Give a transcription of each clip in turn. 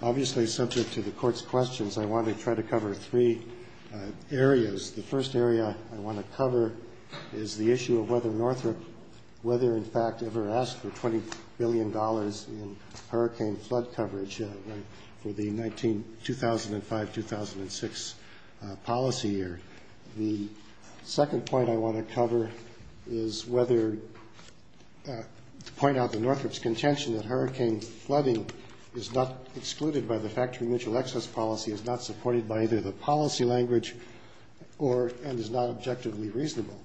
Obviously, subject to the Court's questions, I want to try to cover three areas. The first area I want to cover is the issue of whether Northrop, whether in fact ever asked for $20 million policy year. The second point I want to cover is whether to point out the Northrop's contention that hurricane flooding is not excluded by the Factory Mutual Excess Policy, is not supported by either the policy language or, and is not objectively reasonable.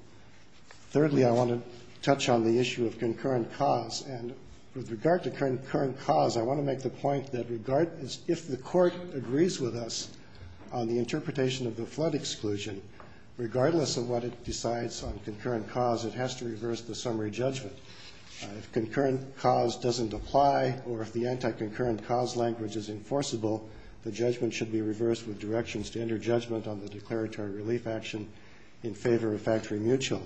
Thirdly, I want to touch on the issue of concurrent cause. And with regard to concurrent cause, I want to make the point that if the Court agrees with us on the interpretation of the flood exclusion, regardless of what it decides on concurrent cause, it has to reverse the summary judgment. If concurrent cause doesn't apply or if the anti-concurrent cause language is enforceable, the judgment should be reversed with directions to enter judgment on the declaratory relief action in favor of Factory Mutual.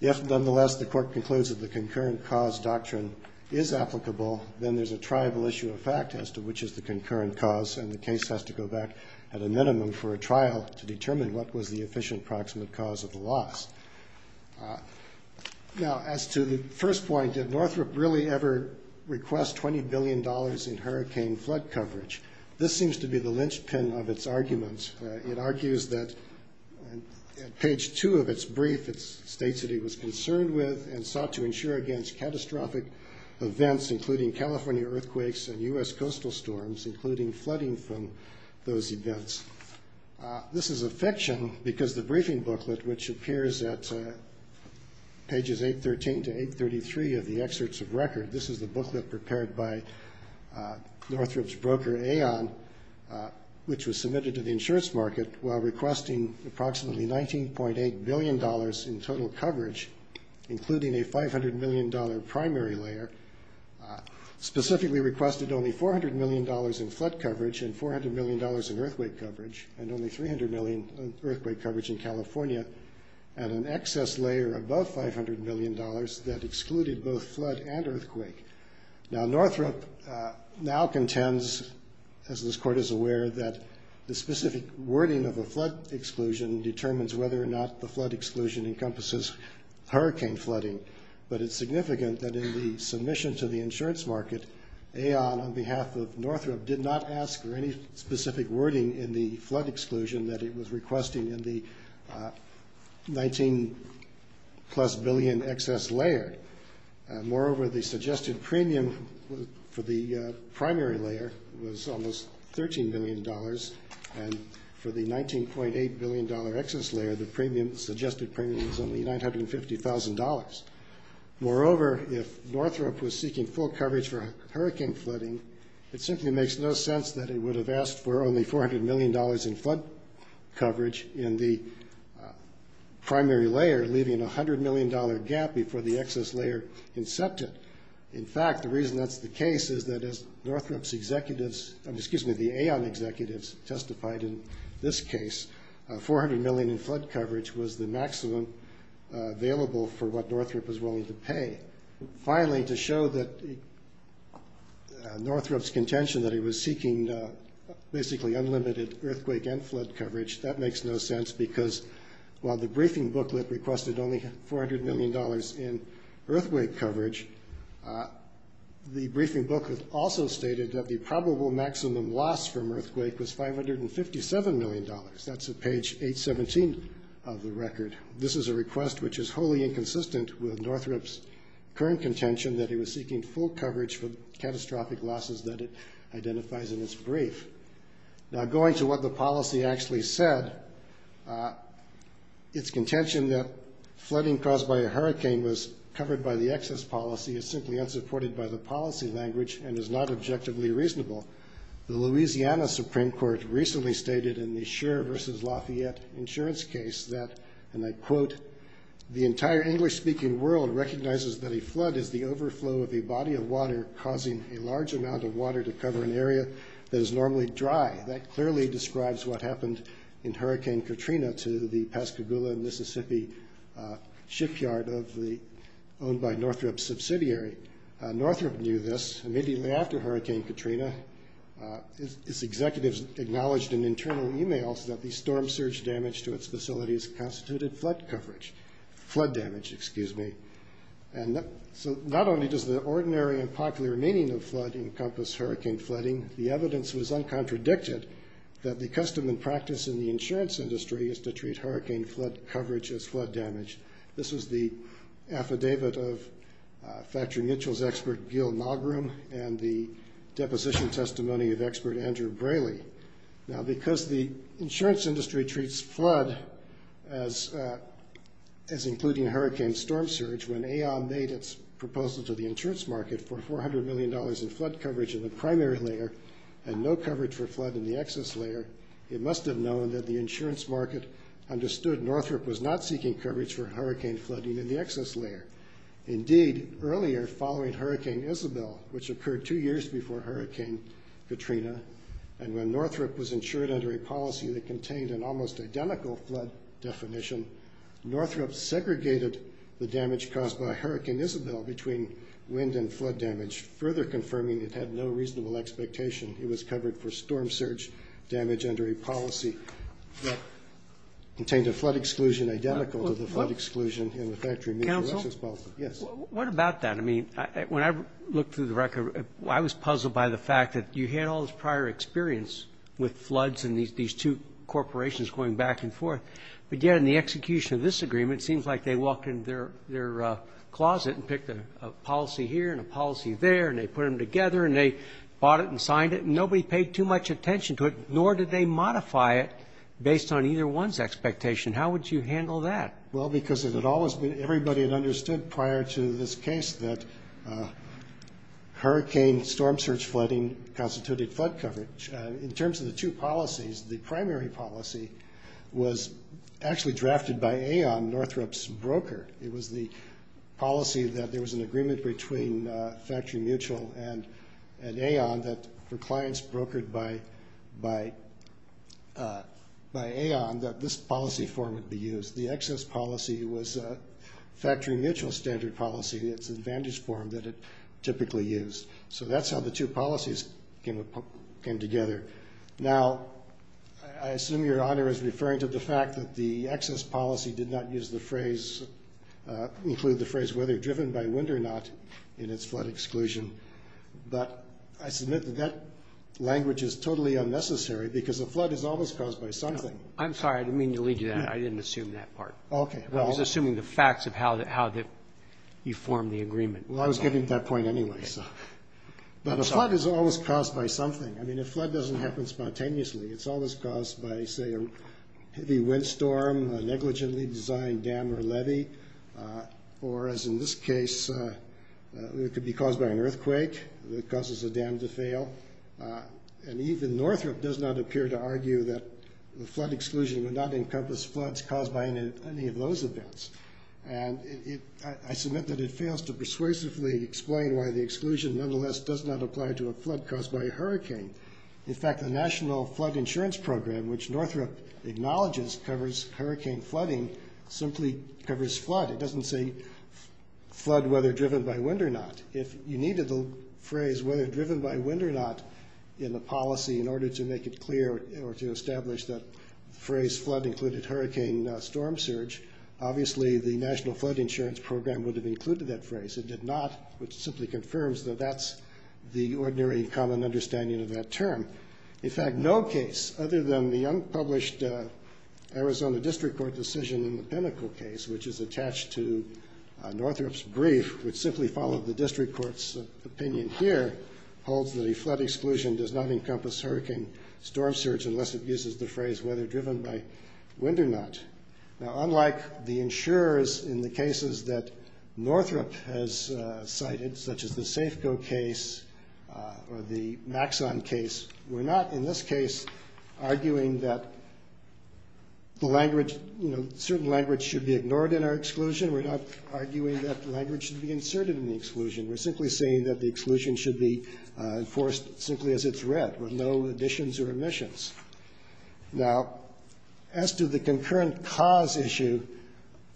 If nonetheless the Court concludes that the concurrent cause doctrine is applicable, then there's a triable issue of fact as to which is the concurrent cause, and the case has to go back at a minimum for a trial to determine what was the efficient proximate cause of the loss. Now, as to the first point, did Northrop really ever request $20 billion in hurricane flood coverage? This seems to be the linchpin of its arguments. It argues that at page two of its brief, it states that he was concerned with and sought to ensure against catastrophic events, including California earthquakes and U.S. coastal storms, including flooding from those events. This is a fiction because the briefing booklet, which appears at pages 813 to 833 of the excerpts of record, this is the booklet prepared by Northrop's broker, Aon, which was submitted to the insurance market while requesting approximately $19.8 billion in total coverage, including a $500 million primary layer, specifically requested only $400 million in flood coverage and $400 million in earthquake coverage, and only $300 million in earthquake coverage in California, and an excess layer above $500 million that excluded both flood and earthquake. Now, Northrop now contends, as this Court is aware, that the specific wording of a flood exclusion encompasses hurricane flooding, but it's significant that in the submission to the insurance market, Aon, on behalf of Northrop, did not ask for any specific wording in the flood exclusion that it was requesting in the $19 plus billion excess layer. Moreover, the suggested premium for the primary layer was almost $13 billion, and for the $19.8 billion excess layer, the suggested premium is only $950,000. Moreover, if Northrop was seeking full coverage for hurricane flooding, it simply makes no sense that it would have asked for only $400 million in flood coverage in the primary layer, leaving a $100 million gap before the excess layer incepted. In fact, the reason that's the case is that as Northrop's executives, excuse me, the Aon executives, testified in this case, $400 million in flood coverage was the maximum available for what Northrop was willing to pay. Finally, to show that Northrop's contention that he was seeking basically unlimited earthquake and flood coverage, that makes no sense because while the briefing booklet requested only $400 million in earthquake coverage, the briefing booklet also stated that the probable maximum loss from earthquake was $557 million. That's at page 817 of the record. This is a request which is wholly inconsistent with Northrop's current contention that he was seeking full coverage for the catastrophic losses that it identifies in its brief. Now going to what the policy actually said, its contention that flooding caused by a hurricane was covered by the excess policy is simply unsupported by the policy language and is not objectively reasonable. The Louisiana Supreme Court recently stated in the Schur v. Lafayette insurance case that, and I quote, the entire English-speaking world recognizes that a flood is the overflow of a body of water causing a large amount of water to cover an area that is normally dry. That clearly describes what happened in Hurricane Katrina to the Pascagoula, Mississippi shipyard owned by Northrop's team. Immediately after Hurricane Katrina, its executives acknowledged in internal emails that the storm surge damage to its facilities constituted flood damage. So not only does the ordinary and popular meaning of flood encompass hurricane flooding, the evidence was uncontradicted that the custom and practice in the insurance industry is to treat hurricane flood coverage as flood damage. This was the conclusion of the deposition testimony of expert Andrew Braley. Now because the insurance industry treats flood as including hurricane storm surge, when AON made its proposal to the insurance market for $400 million in flood coverage in the primary layer and no coverage for flood in the excess layer, it must have known that the insurance market understood Northrop was not seeking coverage for hurricane flooding in the excess layer. Indeed, earlier following Hurricane Isabel, which occurred two years before Hurricane Katrina, and when Northrop was insured under a policy that contained an almost identical flood definition, Northrop segregated the damage caused by Hurricane Isabel between wind and flood damage, further confirming it had no reasonable expectation it was covered for storm surge damage under a policy that contained a flood exclusion in the factory. Council? Yes. What about that? I mean, when I looked through the record, I was puzzled by the fact that you had all this prior experience with floods and these two corporations going back and forth. But yet in the execution of this agreement, it seems like they walked in their closet and picked a policy here and a policy there, and they put them together, and they bought it and signed it, and nobody paid too much attention to it, nor did they modify it based on either one's expectation. How would you handle that? Well, because everybody had understood prior to this case that hurricane storm surge flooding constituted flood coverage. In terms of the two policies, the primary policy was actually drafted by Aon, Northrop's broker. It was the policy that there was an agreement between Factory Mutual and Aon that for clients policy was Factory Mutual standard policy, its advantage form that it typically used. So that's how the two policies came together. Now, I assume your honor is referring to the fact that the excess policy did not use the phrase, include the phrase, whether driven by wind or not, in its flood exclusion. But I submit that language is totally unnecessary because a flood is always caused by something. I'm sorry, I didn't mean to lead you there. I didn't assume that part. Okay. I was assuming the facts of how you form the agreement. Well, I was getting to that point anyway. But a flood is always caused by something. I mean, a flood doesn't happen spontaneously. It's always caused by, say, a heavy windstorm, a negligently designed dam or levee, or as in this case, it could be caused by an earthquake that causes a dam to fail. And even Northrop does not appear to argue that the any of those events. And I submit that it fails to persuasively explain why the exclusion nonetheless does not apply to a flood caused by a hurricane. In fact, the National Flood Insurance Program, which Northrop acknowledges covers hurricane flooding, simply covers flood. It doesn't say flood, whether driven by wind or not. If you needed the phrase, whether driven by wind or not, in the policy in order to make it clear or to establish that phrase, whether flood included hurricane storm surge, obviously the National Flood Insurance Program would have included that phrase. It did not, which simply confirms that that's the ordinary common understanding of that term. In fact, no case other than the unpublished Arizona District Court decision in the Pinnacle case, which is attached to Northrop's brief, which simply followed the district court's opinion here, holds that a flood exclusion does not encompass hurricane storm surge unless it uses the phrase, whether driven by wind or not. Now, unlike the insurers in the cases that Northrop has cited, such as the Safeco case or the Maxon case, we're not in this case arguing that the language, you know, certain language should be ignored in our exclusion. We're not arguing that language should be inserted in the exclusion. We're simply saying that the exclusion should be enforced simply as it's read, with no additions or omissions. Now, as to the concurrent cause issue,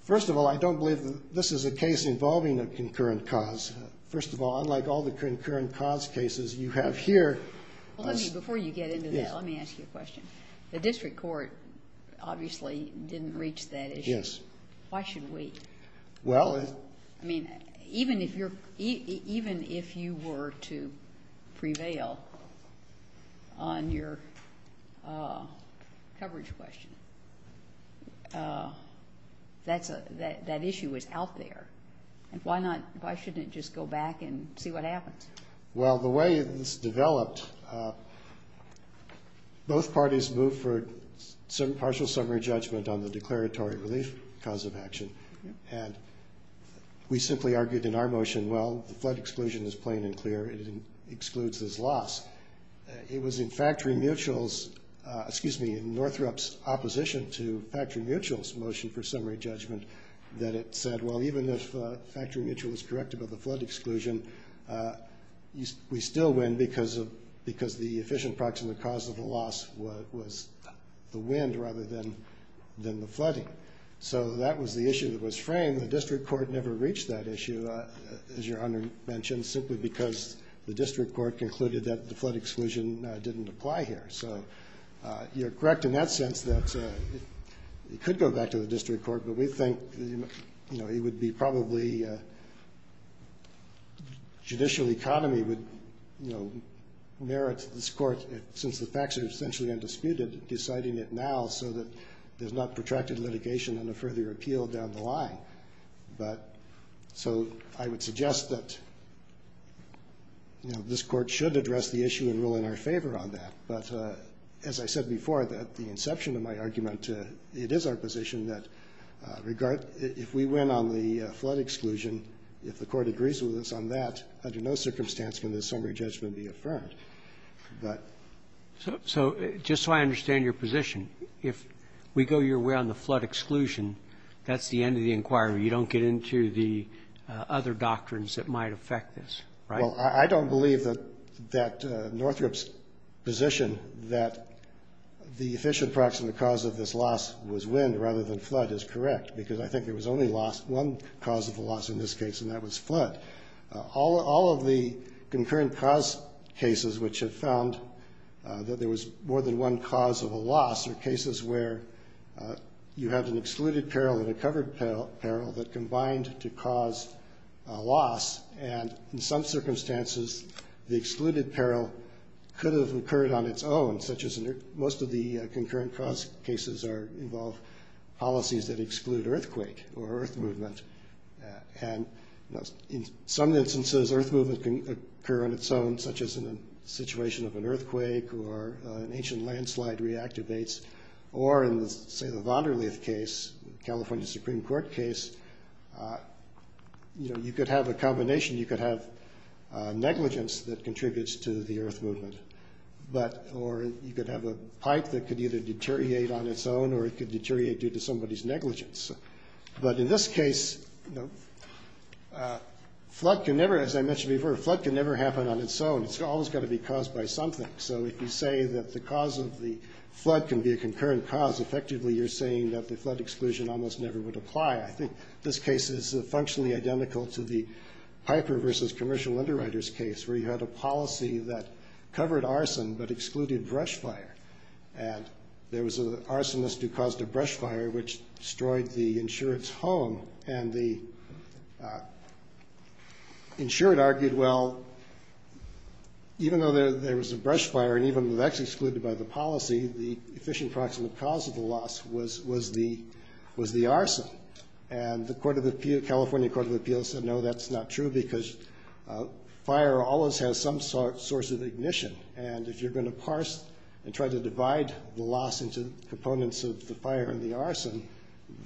first of all, I don't believe that this is a case involving a concurrent cause. First of all, unlike all the concurrent cause cases you have here... Well, let me, before you get into that, let me ask you a question. The district court obviously didn't reach that issue. Yes. Why should we? Well, I mean, even if you're, even if you were to prevail on your coverage question, that issue is out there. And why not, why shouldn't it just go back and see what happens? Well, the way this developed, both parties moved for partial summary judgment on the declaratory relief cause of action. And we simply argued in our motion, well, the flood exclusion is plain and clear. It excludes this loss. It was in Factory Mutual's, excuse me, in Northrop's opposition to Factory Mutual's motion for summary judgment that it said, well, even if Factory Mutual is corrected by the flood exclusion, we still win because of, because the efficient proximate cause of the loss was the wind rather than the flooding. So that was the issue that was framed. The district court never reached that issue, as your Honor mentioned, simply because the district court concluded that the flood exclusion didn't apply here. So you're correct in that sense that it could go back to the district court, but we think, you know, it would be probably judicial economy would, you know, merit this court, since the facts are essentially undisputed, deciding it now so that there's not protracted litigation and a further appeal down the line. But, so I would suggest that, you know, this court should address the issue and rule in our favor on that. But as I said before, at the inception of my argument, it is our position that if we win on the flood exclusion, if the court agrees with us on that, under no circumstance can this summary judgment be affirmed. So just so I understand your position, if we go your way on the flood exclusion, that's the end of the inquiry. You don't get into the other doctrines that might affect this, right? Well, I don't believe that Northrop's position that the efficient proximate cause of this loss was wind rather than flood is correct, because I think there was only one cause of the loss in this case, and that was flood. All of the concurrent cause cases which have found that there was more than one cause of a loss are cases where you have an excluded peril and a covered peril that combined to cause a loss. And in some circumstances, the excluded peril could have occurred on its own, such as most of the concurrent cause cases involve policies that exclude earthquake or earth movement. And in some instances, earth movement can occur on its own, such as in a situation of an earthquake or an ancient landslide reactivates, or in, say, the Vonderleht case, California Supreme Court case, you could have a combination. You could have negligence that contributes to the earth movement, or you could have a pipe that could either deteriorate on its own or it could deteriorate due to somebody's negligence. But in this case, flood can never, as I mentioned before, flood can never happen on its own. It's always got to be caused by something. So if you say that the cause of the flood can be a concurrent cause, effectively, you're saying that the flood exclusion almost never would apply. I think this case is functionally identical to the Piper versus Commercial Underwriters case, where you had a policy that covered arson but excluded brush fire. And there was an arsonist who caused a brush fire, which destroyed the insured's home. And the insured argued, well, even though there was a brush fire, and even though that's excluded by the policy, the efficient proximate cause of the loss was the arson. And the California Court of Appeals said, no, that's not true, because fire always has some source of ignition. And if you're going to parse and try to divide the loss into components of the fire and the arson,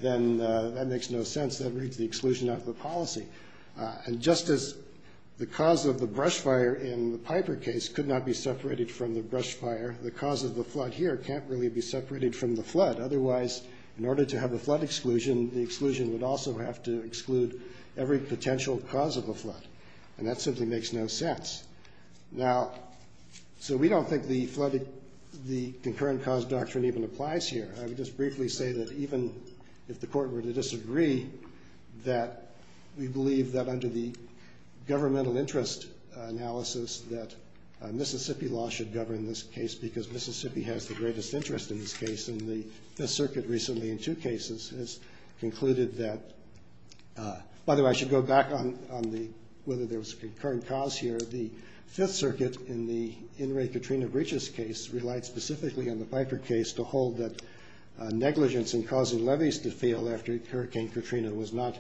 then that makes no sense. That reads the exclusion out of the policy. And just as the cause of the brush fire in the Piper case could not be separated from the brush fire, the cause of the flood here can't really be separated from the flood. Otherwise, in order to have a flood exclusion, the exclusion would also have to exclude every potential cause of a flood. And that simply makes no sense. Now, so we don't think the concurrent cause doctrine even applies here. I would just briefly say that even if the court were to disagree, that we believe that under the governmental interest analysis that Mississippi law should govern this case, because Mississippi has the greatest interest in this case. And the Fifth Circuit recently, in two cases, has concluded that, by the way, I should go back on whether there was a concurrent cause here. The Fifth Circuit, in the In re Catrina Breaches case, relied specifically on the Piper case to hold that negligence in causing levees to fail after Hurricane Catrina was not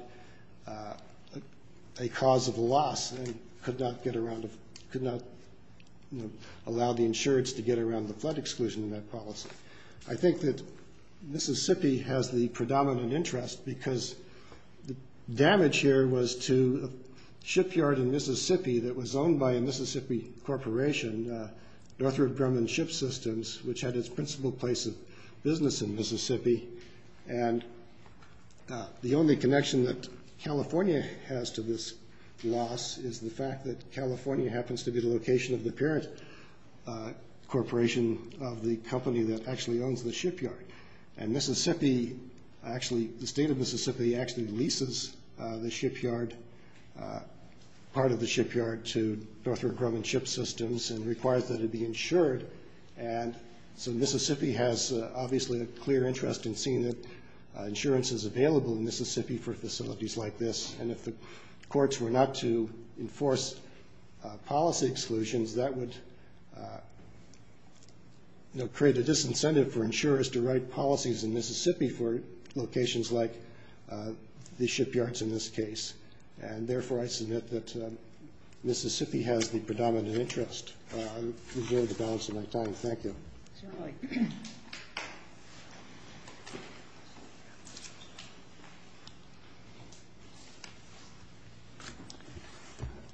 a cause of loss and could not get around, could not allow the insurance to get around the flood exclusion in that policy. I think that Mississippi has the predominant interest because the damage here was to a shipyard in Mississippi that was owned by a Mississippi corporation, Northrop Grumman Ship Systems, which had its principal place of business in Mississippi. And the only connection that California has to this loss is the fact that California happens to be the location of the parent corporation of the company that actually owns the shipyard. And Mississippi, actually, the state of Mississippi actually leases the shipyard, part of the shipyard, to Northrop Grumman Ship Systems and requires that it be insured. And so Mississippi has, obviously, a clear interest in seeing that insurance is available in Mississippi for facilities like this. And if the courts were not to enforce policy exclusions, that would create a disincentive for insurers to write policies in Mississippi for locations like the shipyards in this case. And therefore, I submit that Mississippi has the predominant interest. I'm enjoying the balance of my time. Thank you.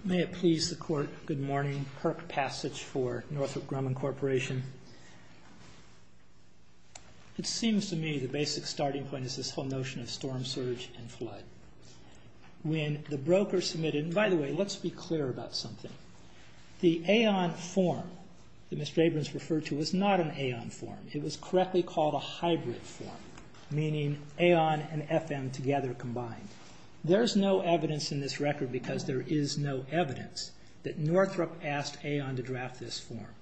May it please the Court, good morning. Perk Passage for Northrop Grumman Corporation. It seems to me the basic starting point is this whole notion of storm surge and flood. When the broker submitted, and by the way, let's be clear about something. The Aon form that Mr. Abrams referred to was not an Aon form. It was correctly called a hybrid form, meaning Aon and FM together combined. There's no evidence in this record, because there is no evidence, that Northrop asked Aon to draft this form.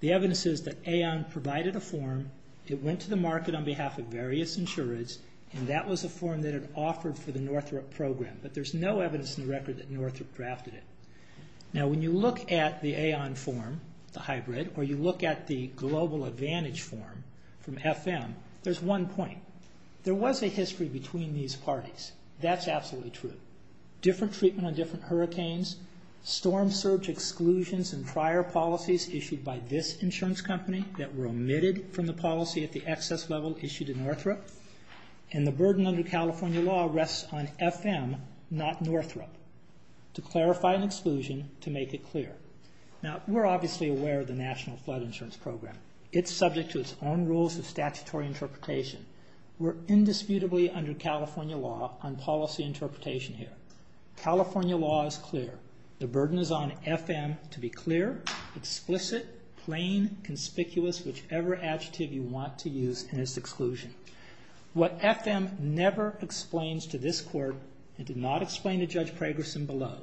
The evidence is that Aon provided a form, it went to the market on behalf of various insurers, and that was a form that it offered for the Northrop program. But there's no evidence in the record that Northrop drafted it. Now, when you look at the Aon form, the hybrid, or you look at the global advantage form from FM, there's one point. There was a history between these parties. That's absolutely true. Different treatment on different hurricanes, storm surge exclusions and prior policies issued by this insurance company that were omitted from the policy at the excess level issued to Northrop, and the burden under California law rests on FM, not Northrop, to clarify an exclusion, to make it clear. Now, we're obviously aware of the National Flood Insurance Program. It's subject to its own rules of statutory interpretation. We're indisputably under California law on policy interpretation here. California law is clear. The burden is on FM to be clear, explicit, plain, conspicuous, whichever adjective you want to use in this exclusion. What FM never explains to this court, it did not explain to Judge Pragerson below,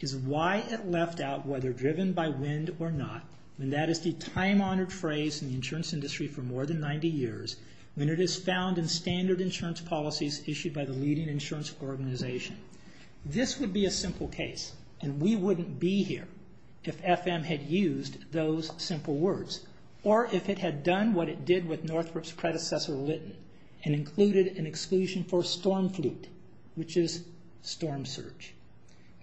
is why it left out whether driven by wind or not, and that is the time-honored phrase in the insurance industry for more than 90 years, when it is found in standard insurance policies issued by the leading insurance organization. This would be a simple case, and we wouldn't be here if FM had used those simple words, or if it had done what it did with Northrop's predecessor, Lytton, and included an exclusion for storm flute, which is storm surge.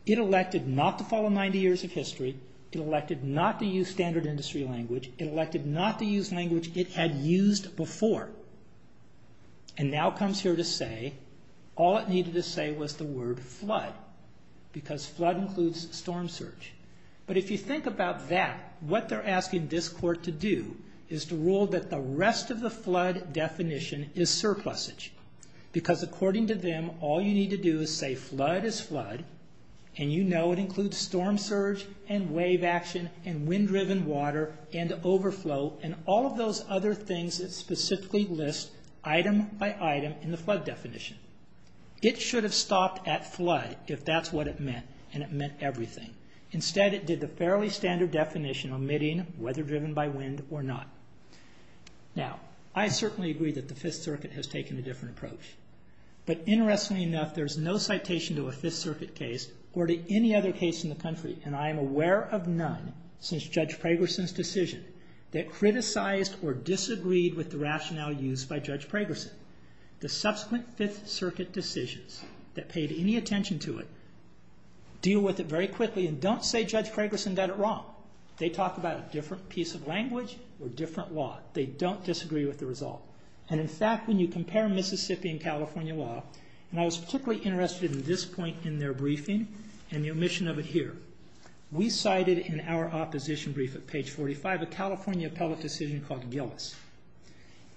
It elected not to follow 90 years of history. It elected not to use standard industry language. It elected not to use language it had used before, and now comes here to say all it needed to say was the word flood, because flood includes storm surge. But if you think about that, what they're asking this court to do is to rule that the rest of the flood definition is surplusage, because according to them, all you need to do is say flood is flood, and you know it includes storm surge and wave action and wind-driven water and overflow and all of those other things that specifically list item by item in the flood definition. It should have stopped at flood if that's what it meant, and it meant everything. Instead, it did the fairly standard definition omitting whether driven by wind or not. Now, I certainly agree that the Fifth Circuit has taken a different approach, but interestingly enough, there's no citation to a Fifth Circuit case or to any other case in the country, and I am aware of none since Judge Pragerson's decision that criticized or disagreed with the rationale used by Judge Pragerson. The subsequent Fifth Circuit decisions that paid any attention to it deal with it very quickly and don't say Judge Pragerson got it wrong. They talk about a different piece of language or different law. They don't disagree with the result. And, in fact, when you compare Mississippi and California law, and I was particularly interested in this point in their briefing and the omission of it here, we cited in our opposition brief at page 45 a California appellate decision called Gillis.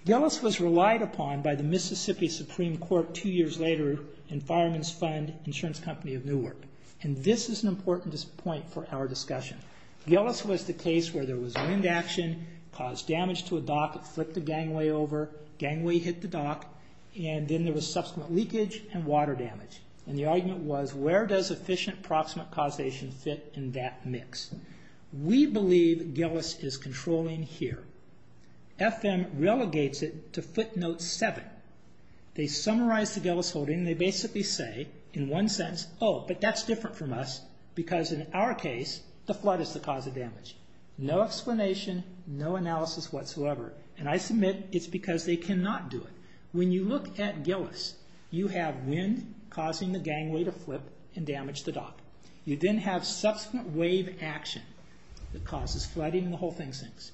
Gillis was relied upon by the Mississippi Supreme Court two years later in Fireman's Fund Insurance Company of Newark, and this is an important point for our discussion. Gillis was the case where there was wind action, caused damage to a dock, it flipped the gangway over, gangway hit the dock, and then there was subsequent leakage and water damage. And the argument was where does efficient proximate causation fit in that mix? We believe Gillis is controlling here. FM relegates it to footnote 7. They summarize the Gillis holding. They basically say in one sentence, oh, but that's different from us because in our case the flood is the cause of damage. No explanation, no analysis whatsoever, and I submit it's because they cannot do it. When you look at Gillis, you have wind causing the gangway to flip and damage the dock. You then have subsequent wave action that causes flooding and the whole thing sinks.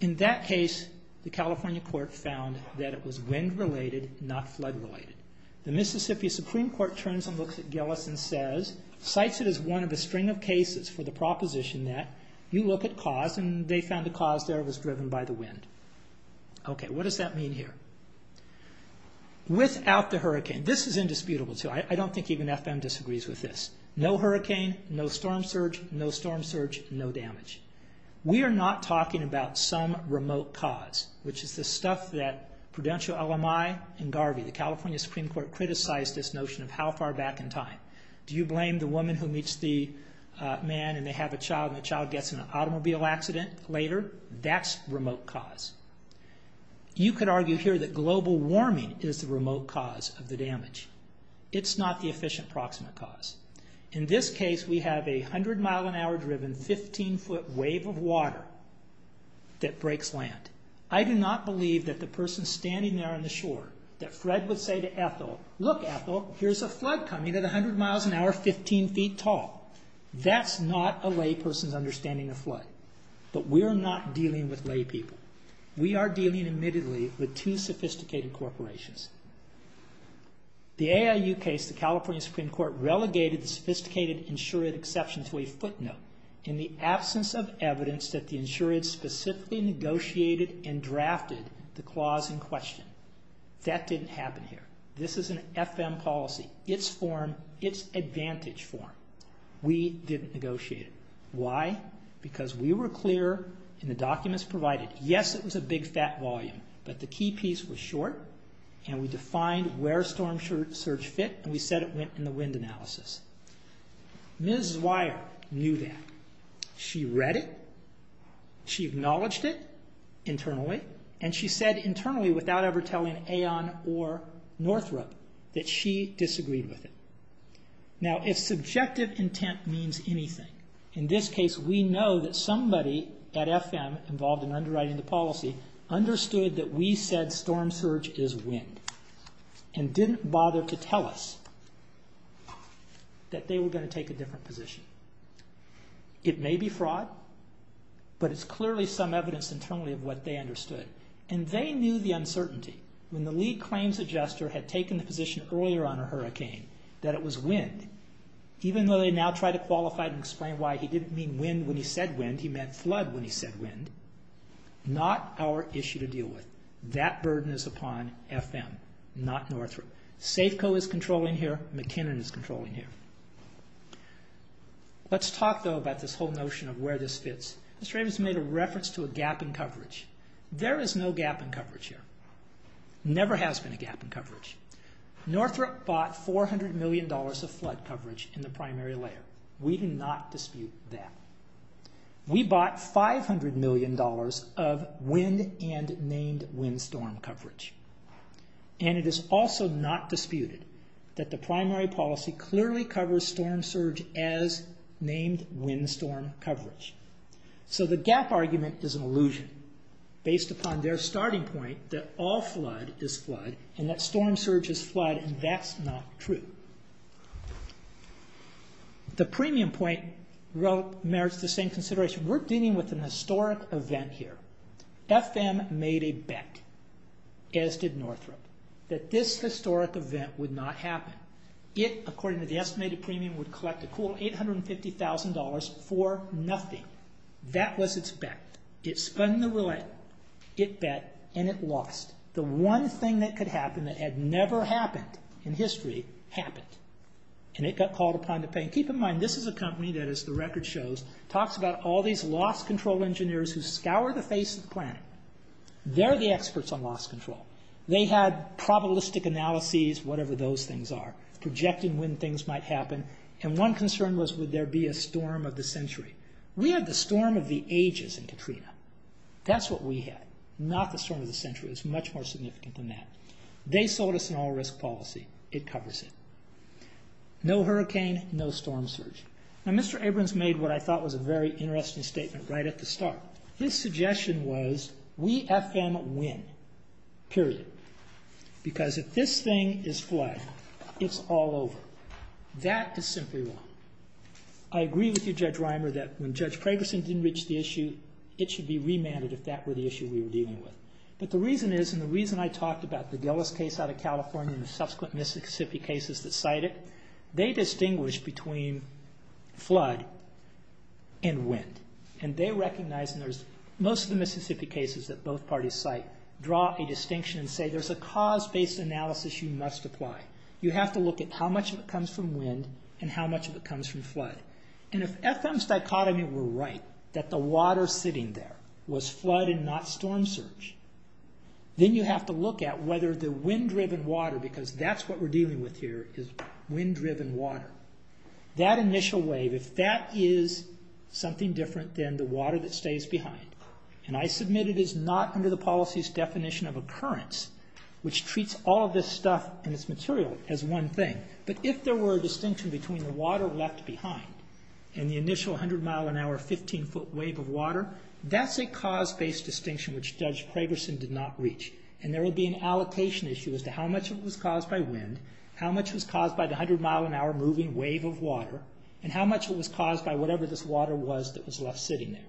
In that case, the California court found that it was wind-related, not flood-related. The Mississippi Supreme Court turns and looks at Gillis and says, cites it as one of the string of cases for the proposition that you look at cause and they found the cause there was driven by the wind. Okay, what does that mean here? Without the hurricane, this is indisputable too. I don't think even FM disagrees with this. No hurricane, no storm surge, no storm surge, no damage. We are not talking about some remote cause, which is the stuff that Prudential, LMI, and Garvey, the California Supreme Court, criticized this notion of how far back in time. Do you blame the woman who meets the man and they have a child and the child gets in an automobile accident later? That's remote cause. You could argue here that global warming is the remote cause of the damage. It's not the efficient proximate cause. In this case, we have a 100-mile-an-hour-driven, 15-foot wave of water that breaks land. I do not believe that the person standing there on the shore, that Fred would say to Ethel, look, Ethel, here's a flood coming at 100 miles an hour, 15 feet tall. That's not a layperson's understanding of flood. But we're not dealing with laypeople. We are dealing, admittedly, with two sophisticated corporations. The AIU case, the California Supreme Court, relegated the sophisticated insured exception to a footnote in the absence of evidence that the insured specifically negotiated and drafted the clause in question. That didn't happen here. This is an FM policy. It's form, it's advantage form. We didn't negotiate it. Why? Because we were clear in the documents provided. Yes, it was a big, fat volume, but the key piece was short, and we defined where storm surge fit, and we said it went in the wind analysis. Ms. Zweier knew that. She read it. She acknowledged it internally, and she said internally, without ever telling Aon or Northrop, that she disagreed with it. Now, if subjective intent means anything, in this case, we know that somebody at FM involved in underwriting the policy understood that we said storm surge is wind and didn't bother to tell us that they were going to take a different position. It may be fraud, but it's clearly some evidence internally of what they understood, and they knew the uncertainty. When the lead claims adjuster had taken the position earlier on a hurricane that it was wind, even though they now try to qualify it and explain why he didn't mean wind when he said wind, he meant flood when he said wind, not our issue to deal with. That burden is upon FM, not Northrop. Safeco is controlling here. McKinnon is controlling here. Let's talk, though, about this whole notion of where this fits. Mr. Abrams made a reference to a gap in coverage. There is no gap in coverage here. Never has been a gap in coverage. Northrop bought $400 million of flood coverage in the primary layer. We do not dispute that. We bought $500 million of wind and named wind storm coverage. And it is also not disputed that the primary policy clearly covers storm surge as named wind storm coverage. So the gap argument is an illusion based upon their starting point that all flood is flood and that storm surge is flood, and that's not true. The premium point merits the same consideration. We're dealing with an historic event here. FM made a bet, as did Northrop, that this historic event would not happen. It, according to the estimated premium, would collect a cool $850,000 for nothing. That was its bet. It spun the roulette, it bet, and it lost. The one thing that could happen that had never happened in history happened, and it got called upon to pay. Keep in mind, this is a company that, as the record shows, talks about all these loss control engineers who scour the face of the planet. They're the experts on loss control. They had probabilistic analyses, whatever those things are, projecting when things might happen, and one concern was would there be a storm of the century. We had the storm of the ages in Katrina. That's what we had, not the storm of the century. It's much more significant than that. They sold us an all-risk policy. It covers it. No hurricane, no storm surge. Now, Mr. Abrams made what I thought was a very interesting statement right at the start. His suggestion was we FM win, period, because if this thing is flagged, it's all over. That is simply wrong. I agree with you, Judge Reimer, that when Judge Kragerson didn't reach the issue, it should be remanded if that were the issue we were dealing with. But the reason is, and the reason I talked about the Gillis case out of California and the subsequent Mississippi cases that cite it, they distinguish between flood and wind. They recognize, and most of the Mississippi cases that both parties cite, draw a distinction and say there's a cause-based analysis you must apply. You have to look at how much of it comes from wind and how much of it comes from flood. If FM's dichotomy were right, that the water sitting there was flood and not storm surge, then you have to look at whether the wind-driven water, because that's what we're dealing with here, is wind-driven water. That initial wave, if that is something different than the water that stays behind, and I submit it is not under the policy's definition of occurrence, which treats all of this stuff and its material as one thing, but if there were a distinction between the water left behind and the initial 100-mile-an-hour 15-foot wave of water, that's a cause-based distinction which Judge Kragerson did not reach, and there would be an allocation issue as to how much of it was caused by wind, how much was caused by the 100-mile-an-hour moving wave of water, and how much of it was caused by whatever this water was that was left sitting there.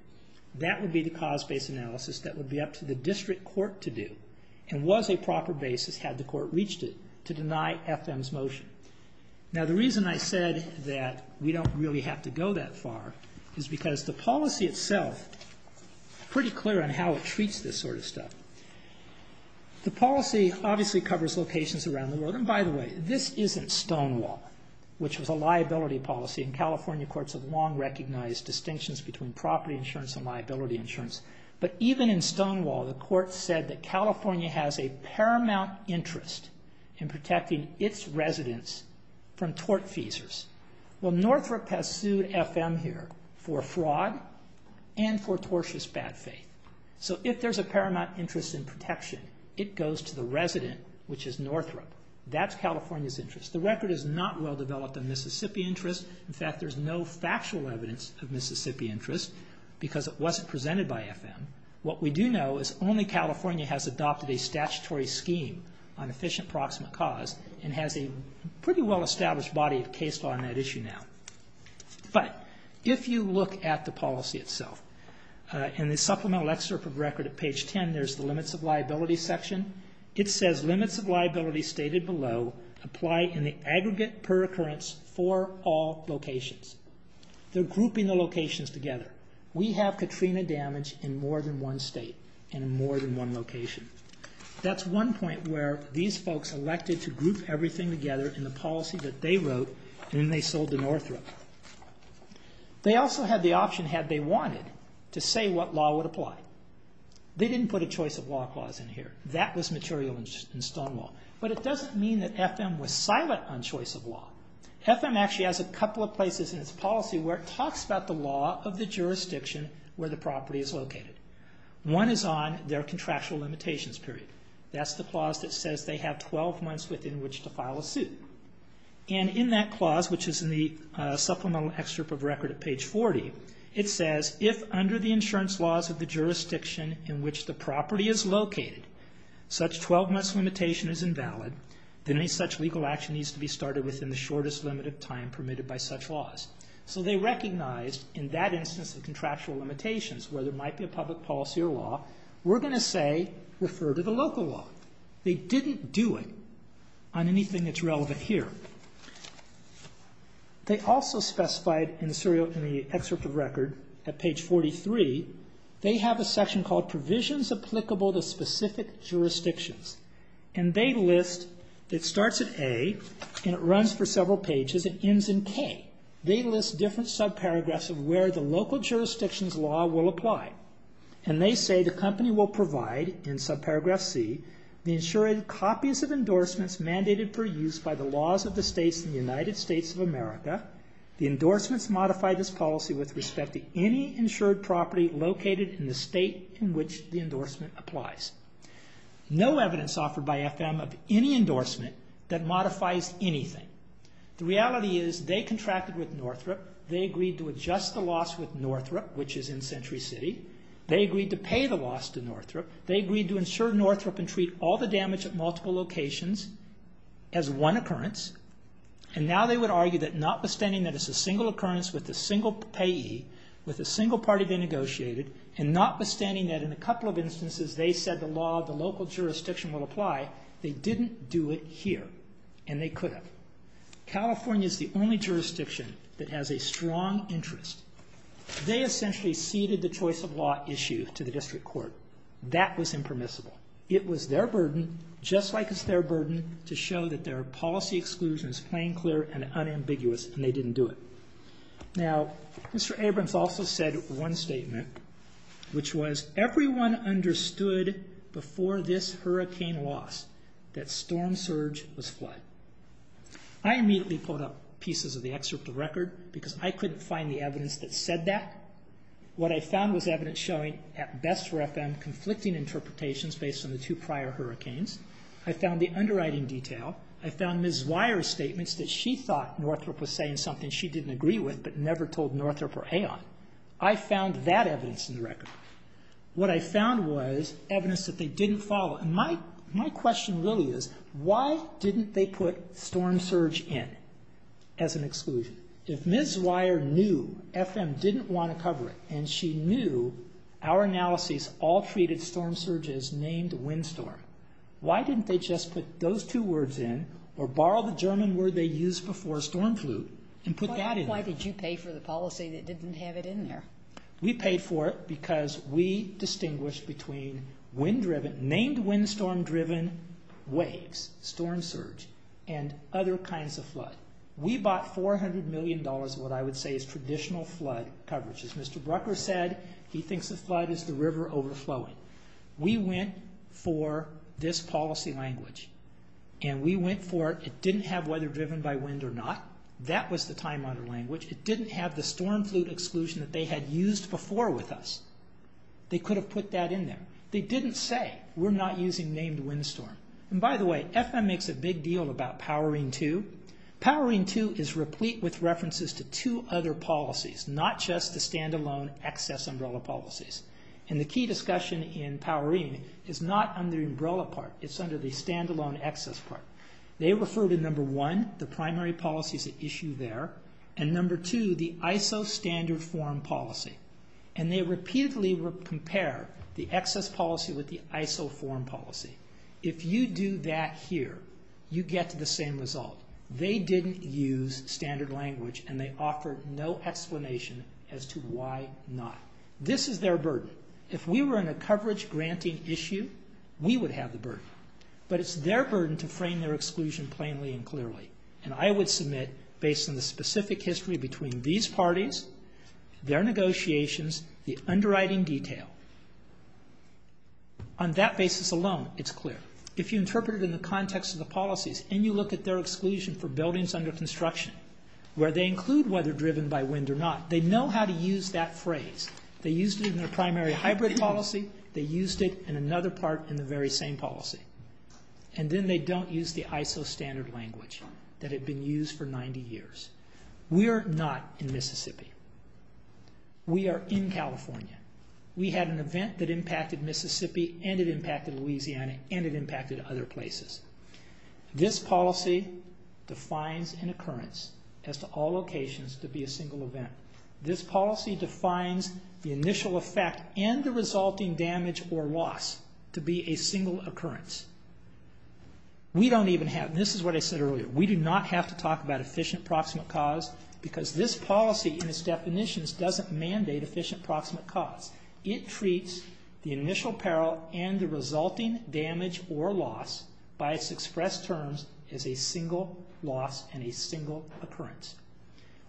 That would be the cause-based analysis that would be up to the district court to do and was a proper basis had the court reached it to deny FM's motion. Now, the reason I said that we don't really have to go that far is because the policy itself is pretty clear on how it treats this sort of stuff. The policy obviously covers locations around the world, and by the way, this isn't Stonewall, which was a liability policy, and California courts have long recognized distinctions between property insurance and liability insurance, but even in Stonewall, the court said that California has a paramount interest in protecting its residents from tortfeasors. Well, Northrop has sued FM here for fraud and for tortious bad faith, so if there's a paramount interest in protection, it goes to the resident, which is Northrop. That's California's interest. The record is not well-developed on Mississippi interest. In fact, there's no factual evidence of Mississippi interest because it wasn't presented by FM. What we do know is only California has adopted a statutory scheme on efficient proximate cause and has a pretty well-established body of case law on that issue now. But if you look at the policy itself, in the supplemental excerpt of the record at page 10, there's the limits of liability section. It says limits of liability stated below apply in the aggregate per occurrence for all locations. They're grouping the locations together. We have Katrina damage in more than one state and in more than one location. That's one point where these folks elected to group everything together in the policy that they wrote, and then they sold to Northrop. They also had the option, had they wanted, to say what law would apply. They didn't put a choice of law clause in here. That was material in Stonewall. But it doesn't mean that FM was silent on choice of law. FM actually has a couple of places in its policy where it talks about the law of the jurisdiction where the property is located. One is on their contractual limitations period. That's the clause that says they have 12 months within which to file a suit. And in that clause, which is in the supplemental excerpt of record at page 40, it says if under the insurance laws of the jurisdiction in which the property is located, such 12-months limitation is invalid, then any such legal action needs to be started within the shortest limit of time permitted by such laws. So they recognized in that instance of contractual limitations where there might be a public policy or law, we're going to say refer to the local law. They didn't do it on anything that's relevant here. They also specified in the excerpt of record at page 43, they have a section called Provisions Applicable to Specific Jurisdictions. And they list, it starts at A, and it runs for several pages. It ends in K. They list different subparagraphs of where the local jurisdictions law will apply. And they say the company will provide, in subparagraph C, the insured copies of endorsements mandated for use by the laws of the states in the United States of America. The endorsements modify this policy with respect to any insured property located in the state in which the endorsement applies. No evidence offered by FM of any endorsement that modifies anything. The reality is they contracted with Northrop. They agreed to adjust the loss with Northrop, which is in Century City. They agreed to pay the loss to Northrop. They agreed to insure Northrop and treat all the damage at multiple locations as one occurrence. And now they would argue that notwithstanding that it's a single occurrence with a single payee, with a single party being negotiated, and notwithstanding that in a couple of instances they said the law of the local jurisdiction would apply, they didn't do it here. And they could have. California is the only jurisdiction that has a strong interest. They essentially ceded the choice of law issue to the district court. That was impermissible. It was their burden, just like it's their burden, to show that their policy exclusion is plain, clear, and unambiguous, and they didn't do it. Now, Mr. Abrams also said one statement, which was, everyone understood before this hurricane loss that storm surge was flood. I immediately pulled up pieces of the excerpt of record because I couldn't find the evidence that said that. What I found was evidence showing, at best for FM, conflicting interpretations based on the two prior hurricanes. I found the underwriting detail. I found Ms. Weyer's statements she didn't agree with, but never told Northrop or Aeon. I found that evidence in the record. What I found was evidence that they didn't follow. And my question really is, why didn't they put storm surge in as an exclusion? If Ms. Weyer knew FM didn't want to cover it, and she knew our analyses all treated storm surge as named wind storm, why didn't they just put those two words in, or borrow the German word they used before storm flu, and put that in? Why did you pay for the policy that didn't have it in there? We paid for it because we distinguished between wind-driven, named wind storm-driven waves, storm surge, and other kinds of flood. We bought $400 million of what I would say is traditional flood coverage. As Mr. Brucker said, he thinks the flood is the river overflowing. We went for this policy language, and we went for it. It didn't have weather driven by wind or not. That was the time-honored language. It didn't have the storm flute exclusion that they had used before with us. They could have put that in there. They didn't say, we're not using named wind storm. And by the way, FM makes a big deal about Powering 2. Powering 2 is replete with references to two other policies, not just the stand-alone excess umbrella policies. And the key discussion in Powering is not under the umbrella part, it's under the stand-alone excess part. They refer to number one, the primary policies at issue there, and number two, the ISO standard form policy. And they repeatedly compare the excess policy with the ISO form policy. If you do that here, you get to the same result. They didn't use standard language, and they offered no explanation as to why not. This is their burden. If we were in a coverage-granting issue, we would have the burden. But it's their burden to frame their exclusion plainly and clearly. And I would submit, based on the specific history between these parties, their negotiations, the underwriting detail, on that basis alone, it's clear. If you interpret it in the context of the policies, and you look at their exclusion for buildings under construction, where they include whether driven by wind or not, they know how to use that phrase. They used it in their primary hybrid policy, they used it in another part in the very same policy. And then they don't use the ISO standard language that had been used for 90 years. We are not in Mississippi. We are in California. We had an event that impacted Mississippi, and it impacted Louisiana, and it impacted other places. This policy defines an occurrence as to all locations to be a single event. This policy defines the initial effect and the resulting damage or loss to be a single occurrence. We don't even have, and this is what I said earlier, we do not have to talk about efficient proximate cause, because this policy and its definitions doesn't mandate efficient proximate cause. It treats the initial peril and the resulting damage or loss by its expressed terms as a single loss and a single occurrence.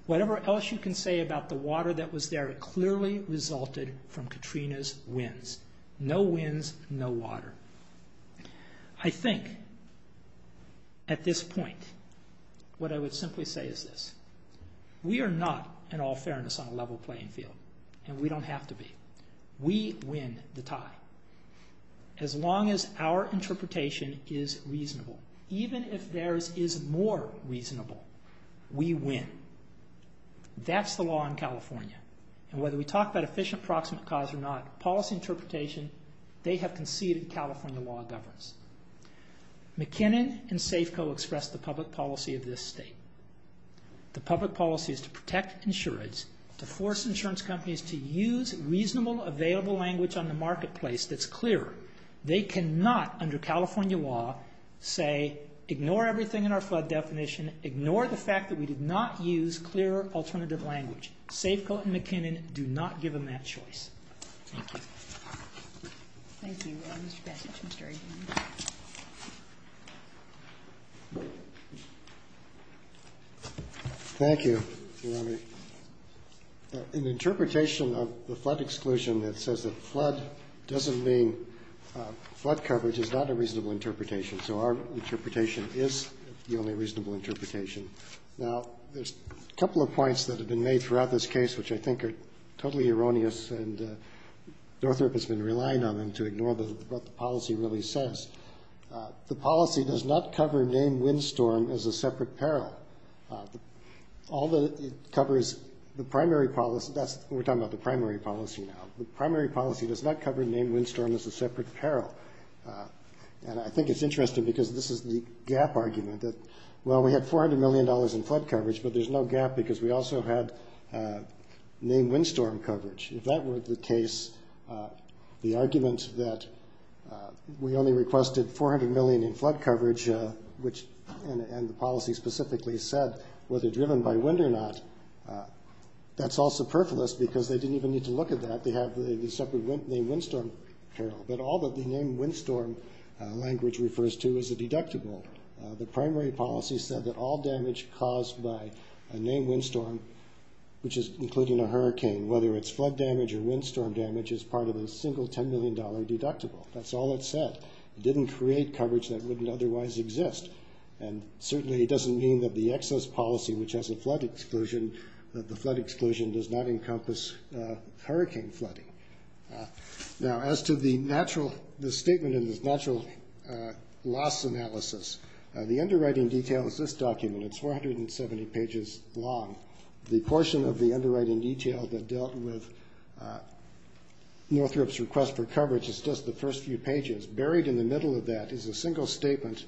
Whatever else you can say about the water that was there, it clearly resulted from Katrina's winds. No winds, no water. I think at this point what I would simply say is this. We are not, in all fairness, on a level playing field, and we don't have to be. We win the tie. As long as our interpretation is reasonable, even if theirs is more reasonable, we win. That's the law in California, and whether we talk about efficient proximate cause or not, policy interpretation, they have conceded California law governs. McKinnon and Safeco expressed the public policy of this state. The public policy is to protect insurance, to force insurance companies to use reasonable, available language on the marketplace that's clearer. They cannot, under California law, say ignore everything in our flood definition, ignore the fact that we did not use clearer alternative language. Safeco and McKinnon do not give them that choice. Thank you. Thank you, Mr. Bessich, Mr. Egan. Thank you, Your Honor. An interpretation of the flood exclusion that says that flood doesn't mean flood coverage is not a reasonable interpretation, so our interpretation is the only reasonable interpretation. Now, there's a couple of points that have been made throughout this case which I think are totally erroneous and Northrop has been relying on them to ignore what the policy really says. The policy does not cover named windstorm as a separate peril. All that it covers, the primary policy, that's what we're talking about, the primary policy now. The primary policy does not cover named windstorm as a separate peril. And I think it's interesting because this is the gap argument that, well, we had $400 million in flood coverage, but there's no gap because we also had named windstorm coverage. If that were the case, the argument that we only requested $400 million in flood coverage, and the policy specifically said whether driven by wind or not, that's all superfluous because they didn't even need to look at that. They have the separate named windstorm peril. But all that the named windstorm language refers to is a deductible. The primary policy said that all damage caused by a named windstorm, which is including a hurricane, whether it's flood damage or windstorm damage, is part of a single $10 million deductible. That's all it said. It didn't create coverage that wouldn't otherwise exist. And certainly it doesn't mean that the excess policy which has a flood exclusion, the flood exclusion does not encompass hurricane flooding. Now, as to the statement in this natural loss analysis, the underwriting detail is this document. It's 470 pages long. The portion of the underwriting detail that dealt with Northrop's request for coverage is just the first few pages. Buried in the middle of that is a single statement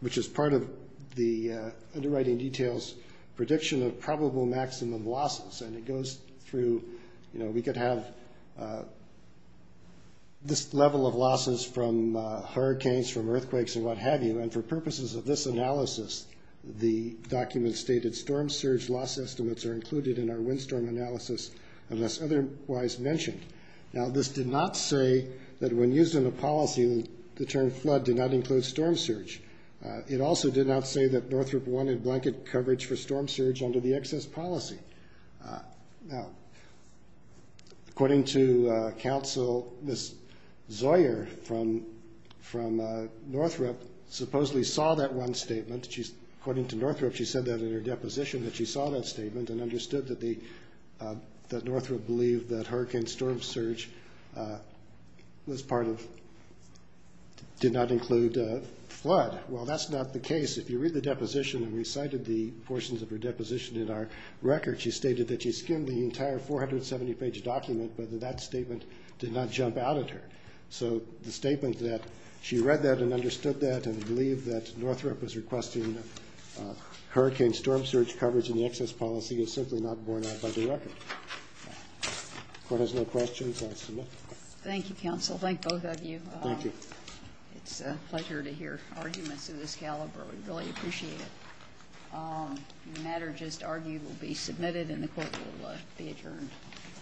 which is part of the underwriting details prediction of probable maximum losses. And it goes through, you know, we could have this level of losses from hurricanes, from earthquakes, and what have you. And for purposes of this analysis, the document stated storm surge loss estimates are included in our storm analysis unless otherwise mentioned. Now, this did not say that when used in a policy the term flood did not include storm surge. It also did not say that Northrop wanted blanket coverage for storm surge under the excess policy. Now, according to counsel, Ms. Zoyer from Northrop supposedly saw that one statement. According to Northrop, she said that in her deposition, that she saw that statement and understood that Northrop believed that hurricane storm surge did not include flood. Well, that's not the case. If you read the deposition and recited the portions of her deposition in our record, she stated that she skimmed the entire 470-page document but that statement did not jump out at her. So the statement that she read that and understood that and believed that Northrop was requesting hurricane storm surge coverage in the excess policy is simply not borne out by the record. If the court has no questions, I'll submit. Thank you, counsel. Thank both of you. Thank you. It's a pleasure to hear arguments of this caliber. We really appreciate it. The matter just argued will be submitted and the court will be adjourned.